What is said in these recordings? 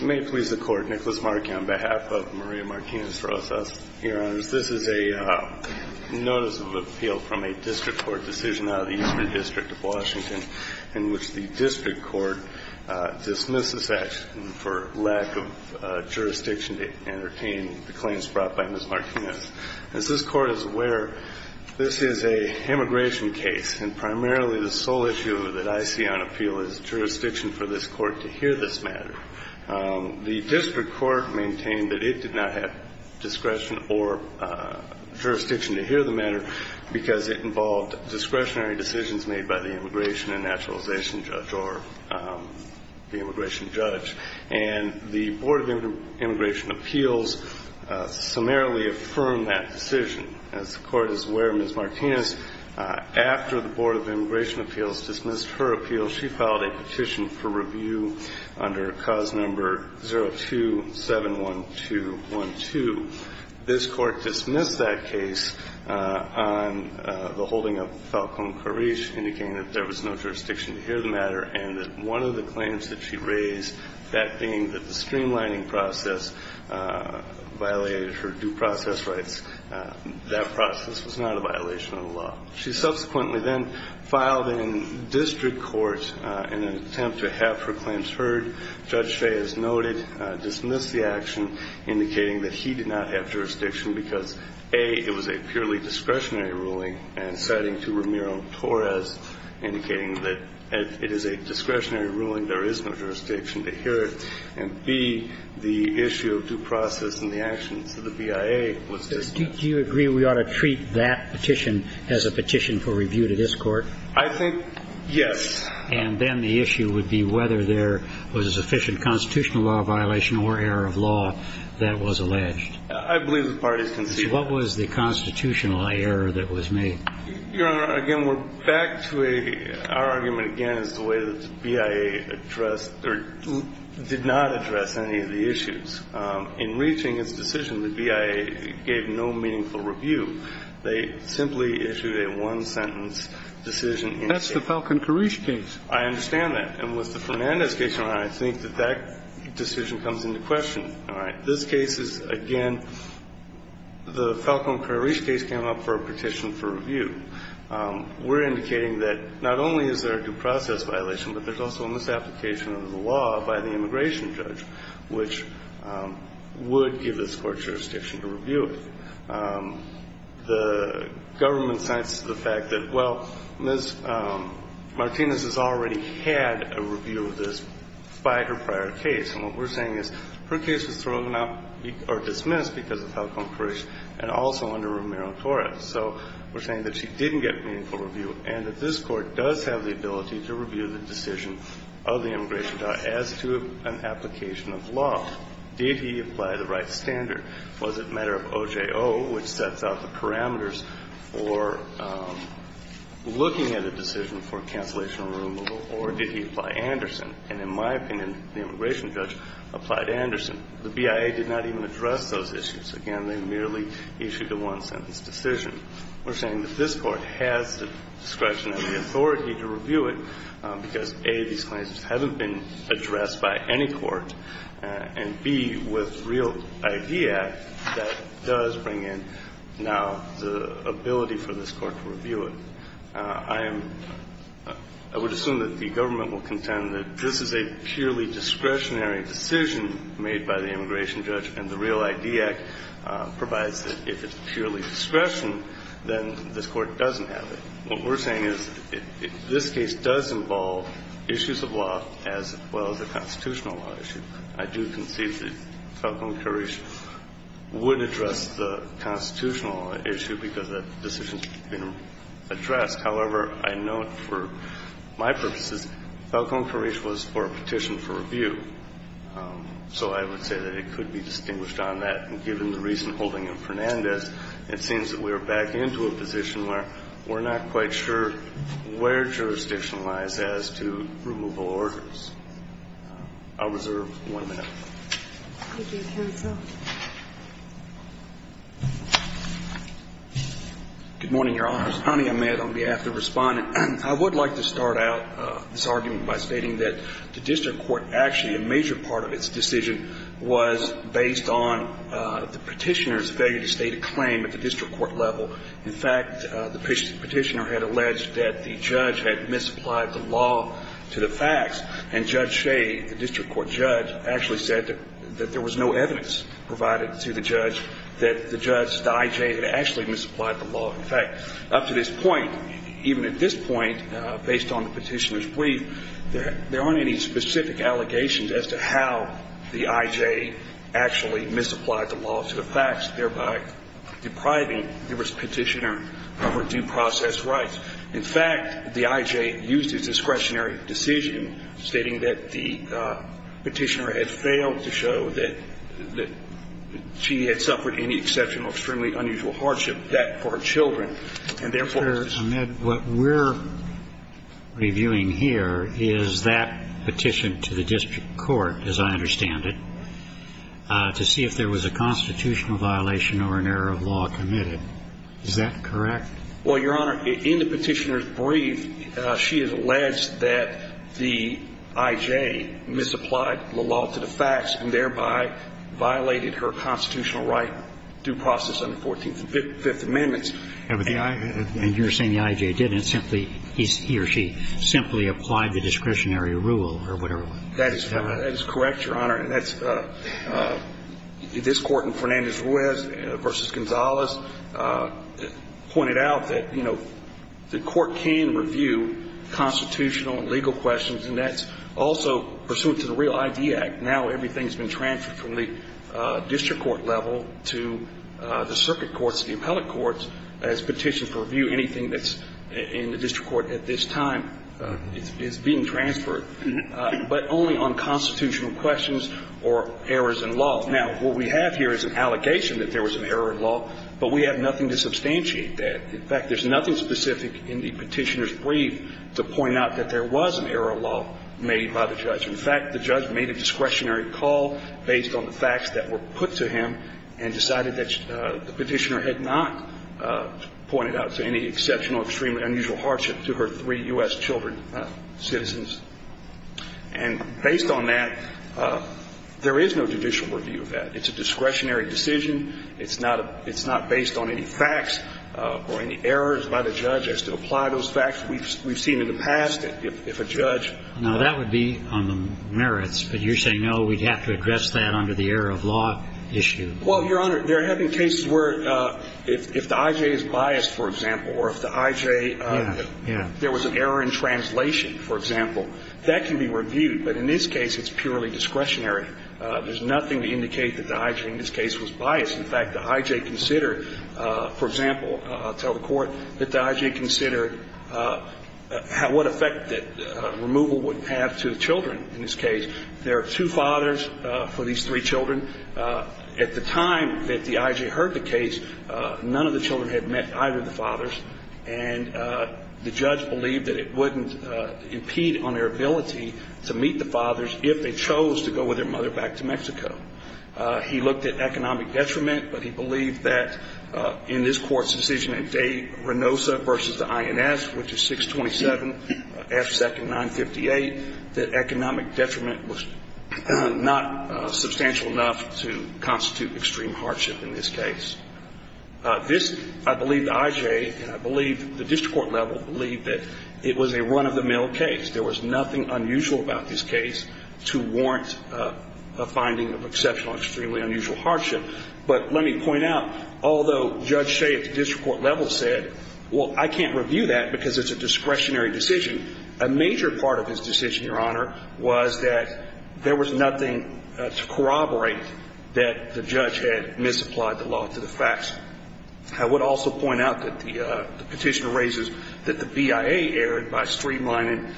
May it please the Court, Nicholas Markey, on behalf of Maria Martinez-Rosas. Your Honors, this is a notice of appeal from a district court decision out of the Eastern District of Washington in which the district court dismisses action for lack of jurisdiction to entertain the claims brought by Ms. Martinez. As this Court is aware, this is an immigration case and primarily the sole issue that I see on appeal is jurisdiction for this Court to hear this matter. The district court maintained that it did not have discretion or jurisdiction to hear the matter because it involved discretionary decisions made by the immigration and naturalization judge or the immigration judge. And the Board of Immigration Appeals summarily affirmed that decision. As the Court is aware, Ms. Martinez, after the Board of Immigration Appeals dismissed her appeal, she filed a petition for review under cause number 0271212. This Court dismissed that case on the holding of Falcone-Carriche, indicating that there was no jurisdiction to hear the matter and that one of the claims that she raised, that being that the streamlining process violated her due process rights, that process was not a violation of the law. She subsequently then filed in district court in an attempt to have her claims heard. Judge Fay has noted, dismissed the action, indicating that he did not have jurisdiction because, A, it was a purely discretionary ruling, and citing to Ramiro-Torres, indicating that it is a discretionary ruling. There is no jurisdiction to hear it. And, B, the issue of due process and the actions of the BIA was dismissed. Do you agree we ought to treat that petition as a petition for review to this Court? I think yes. And then the issue would be whether there was a sufficient constitutional law violation or error of law that was alleged. I believe the parties can see that. What was the constitutional error that was made? Your Honor, again, we're back to a – our argument, again, is the way that the BIA addressed – or did not address any of the issues. In reaching its decision, the BIA gave no meaningful review. They simply issued a one-sentence decision. That's the Falcon-Karish case. I understand that. And with the Fernandez case, Your Honor, I think that that decision comes into question. All right. This case is, again, the Falcon-Karish case came up for a petition for review. We're indicating that not only is there a due process violation, but there's also a misapplication of the law by the immigration judge, which would give this Court jurisdiction to review it. The government cites the fact that, well, Ms. Martinez has already had a review of this by her prior case. And what we're saying is her case was thrown out or dismissed because of Falcon-Karish and also under Romero-Torres. So we're saying that she didn't get meaningful review and that this Court does have the ability to review the decision of the immigration judge as to an application of law. Did he apply the right standard? Was it a matter of OJO, which sets out the parameters for looking at a decision for cancellation or removal? Or did he apply Anderson? And in my opinion, the immigration judge applied Anderson. The BIA did not even address those issues. Again, they merely issued a one-sentence decision. We're saying that this Court has the discretion and the authority to review it because, A, these claims haven't been addressed by any court, and, B, with Real ID Act, that does bring in now the ability for this Court to review it. I am – I would assume that the government will contend that this is a purely discretionary decision made by the immigration judge, and the Real ID Act provides that if it's purely discretion, then this Court doesn't have it. What we're saying is this case does involve issues of law as well as a constitutional law issue. I do concede that Falcón-Carrillo would address the constitutional issue because that decision should have been addressed. However, I note for my purposes, Falcón-Carrillo was for a petition for review. So I would say that it could be distinguished on that. And given the recent holding of Fernandez, it seems that we're back into a position where we're not quite sure where jurisdiction lies as to removal orders. I'll reserve one minute. Thank you, counsel. Good morning, Your Honors. Connie Ahmed on behalf of the Respondent. I would like to start out this argument by stating that the district court, actually, a major part of its decision was based on the Petitioner's failure to state a claim at the district court level. In fact, the Petitioner had alleged that the judge had misapplied the law to the facts. And Judge Shea, the district court judge, actually said that there was no evidence provided to the judge that the judge, the IJ, had actually misapplied the law. In fact, up to this point, even at this point, based on the Petitioner's belief, there aren't any specific allegations as to how the IJ actually misapplied the law to the facts, thereby depriving the Petitioner of her due process rights. In fact, the IJ used its discretionary decision stating that the Petitioner had failed to show that she had suffered any exceptional or extremely unusual hardship. That, for her children, and therefore her children. Mr. Ahmed, what we're reviewing here is that petition to the district court, as I understand it, to see if there was a constitutional violation or an error of law committed. Is that correct? Well, Your Honor, in the Petitioner's brief, she has alleged that the IJ misapplied the law to the facts and thereby violated her constitutional right due process under the Fourteenth and Fifth Amendments. And you're saying the IJ didn't. Simply, he or she simply applied the discretionary rule or whatever. That is correct, Your Honor. And that's this Court in Fernandez-Ruiz v. Gonzalez pointed out that, you know, the Court can review constitutional and legal questions, and that's also pursuant to the Real ID Act, now everything's been transferred from the district court level to the circuit courts and the appellate courts as petitions review anything that's in the district court at this time is being transferred, but only on constitutional questions or errors in law. Now, what we have here is an allegation that there was an error in law, but we have nothing to substantiate that. In fact, there's nothing specific in the Petitioner's brief to point out that there was an error of law made by the judge. In fact, the judge made a discretionary call based on the facts that were put to him and decided that the Petitioner had not pointed out to any exceptional, extreme, unusual hardship to her three U.S. children, citizens. And based on that, there is no judicial review of that. It's a discretionary decision. It's not based on any facts or any errors by the judge as to apply those facts. We've seen in the past that if a judge... Roberts. Now, that would be on the merits, but you're saying, oh, we'd have to address that under the error of law issue? Phillips. Well, Your Honor, there have been cases where if the IJ is biased, for example, or if the IJ... Roberts. Yeah. Yeah. Phillips. ...if there was an error in translation, for example, that can be reviewed. But in this case, it's purely discretionary. There's nothing to indicate that the IJ in this case was biased. In fact, the IJ considered, for example, I'll tell the Court, that the IJ considered what effect that removal would have to the children in this case. There are two fathers for these three children. At the time that the IJ heard the case, none of the children had met either of the fathers, and the judge believed that it wouldn't impede on their ability to meet the fathers if they chose to go with their mother back to Mexico. He looked at economic detriment, but he believed that in this Court's decision in Day-Renosa v. the INS, which is 627 F. Second 958, that economic detriment was not substantial enough to constitute extreme hardship in this case. This, I believe the IJ, and I believe the district court level, believe that it was a run-of-the-mill case. There was nothing unusual about this case to warrant a finding of exceptional or extremely unusual hardship. But let me point out, although Judge Shea at the district court level said, well, I can't review that because it's a discretionary decision, a major part of his decision, Your Honor, was that there was nothing to corroborate that the judge had misapplied the law to the facts. I would also point out that the petitioner raises that the BIA erred by streamlining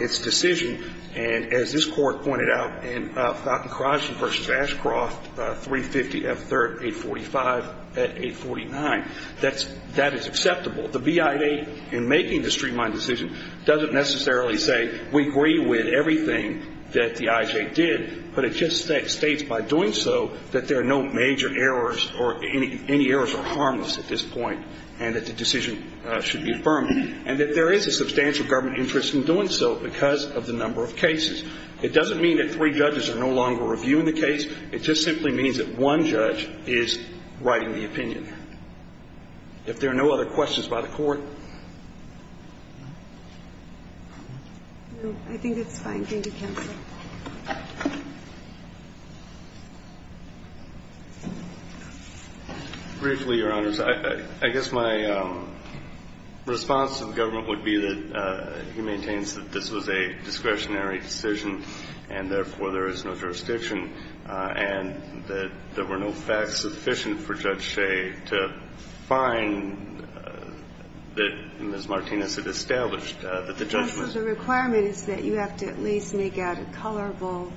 its decision. And as this Court pointed out in Fountain-Crosby v. Ashcroft, 350 F. Third 845 at 849, that's – that is acceptable. The BIA in making the streamlining decision doesn't necessarily say we agree with everything that the IJ did, but it just states by doing so that there are no major errors or any errors are harmless at this point and that the decision should be affirmed. And that there is a substantial government interest in doing so because of the number of cases. It doesn't mean that three judges are no longer reviewing the case. It just simply means that one judge is writing the opinion. If there are no other questions by the Court. Thank you, counsel. Briefly, Your Honors, I guess my response to the government would be that he maintains that this was a discretionary decision and, therefore, there is no jurisdiction and that there were no facts sufficient for Judge Shea to find that Ms. Martinez had established that the judgment – Well, so the requirement is that you have to at least make out the facts.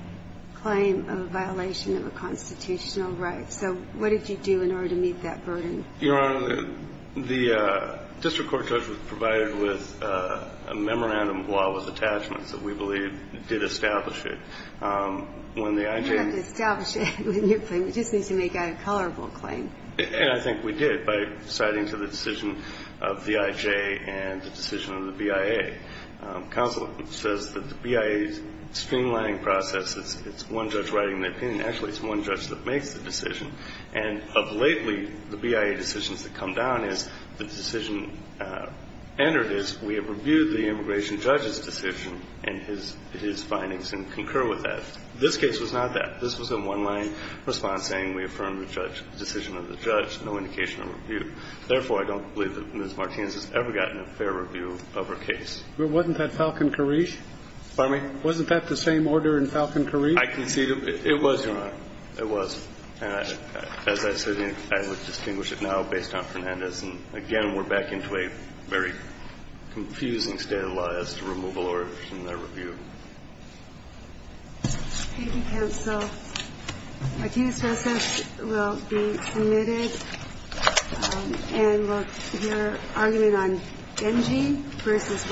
claim of a violation of a constitutional right. So what did you do in order to meet that burden? Your Honor, the district court judge was provided with a memorandum of law with attachments that we believe did establish it. When the IJ – You have to establish it. You just need to make out a colorable claim. And I think we did by citing to the decision of the IJ and the decision of the BIA. Counsel says that the BIA's streamlining process is it's one judge writing the opinion. Actually, it's one judge that makes the decision. And of lately, the BIA decisions that come down is the decision entered is we have reviewed the immigration judge's decision and his findings and concur with that. This case was not that. This was a one-line response saying we affirm the judge – the decision of the judge, no indication of review. Therefore, I don't believe that Ms. Martinez has ever gotten a fair review of her case. Well, wasn't that Falcon-Karish? Pardon me? Wasn't that the same order in Falcon-Karish? I concede it was, Your Honor. It was. And as I said, I would distinguish it now based on Fernandez. And, again, we're back into a very confusing state of the law as to removal or review. Thank you, counsel. Thank you.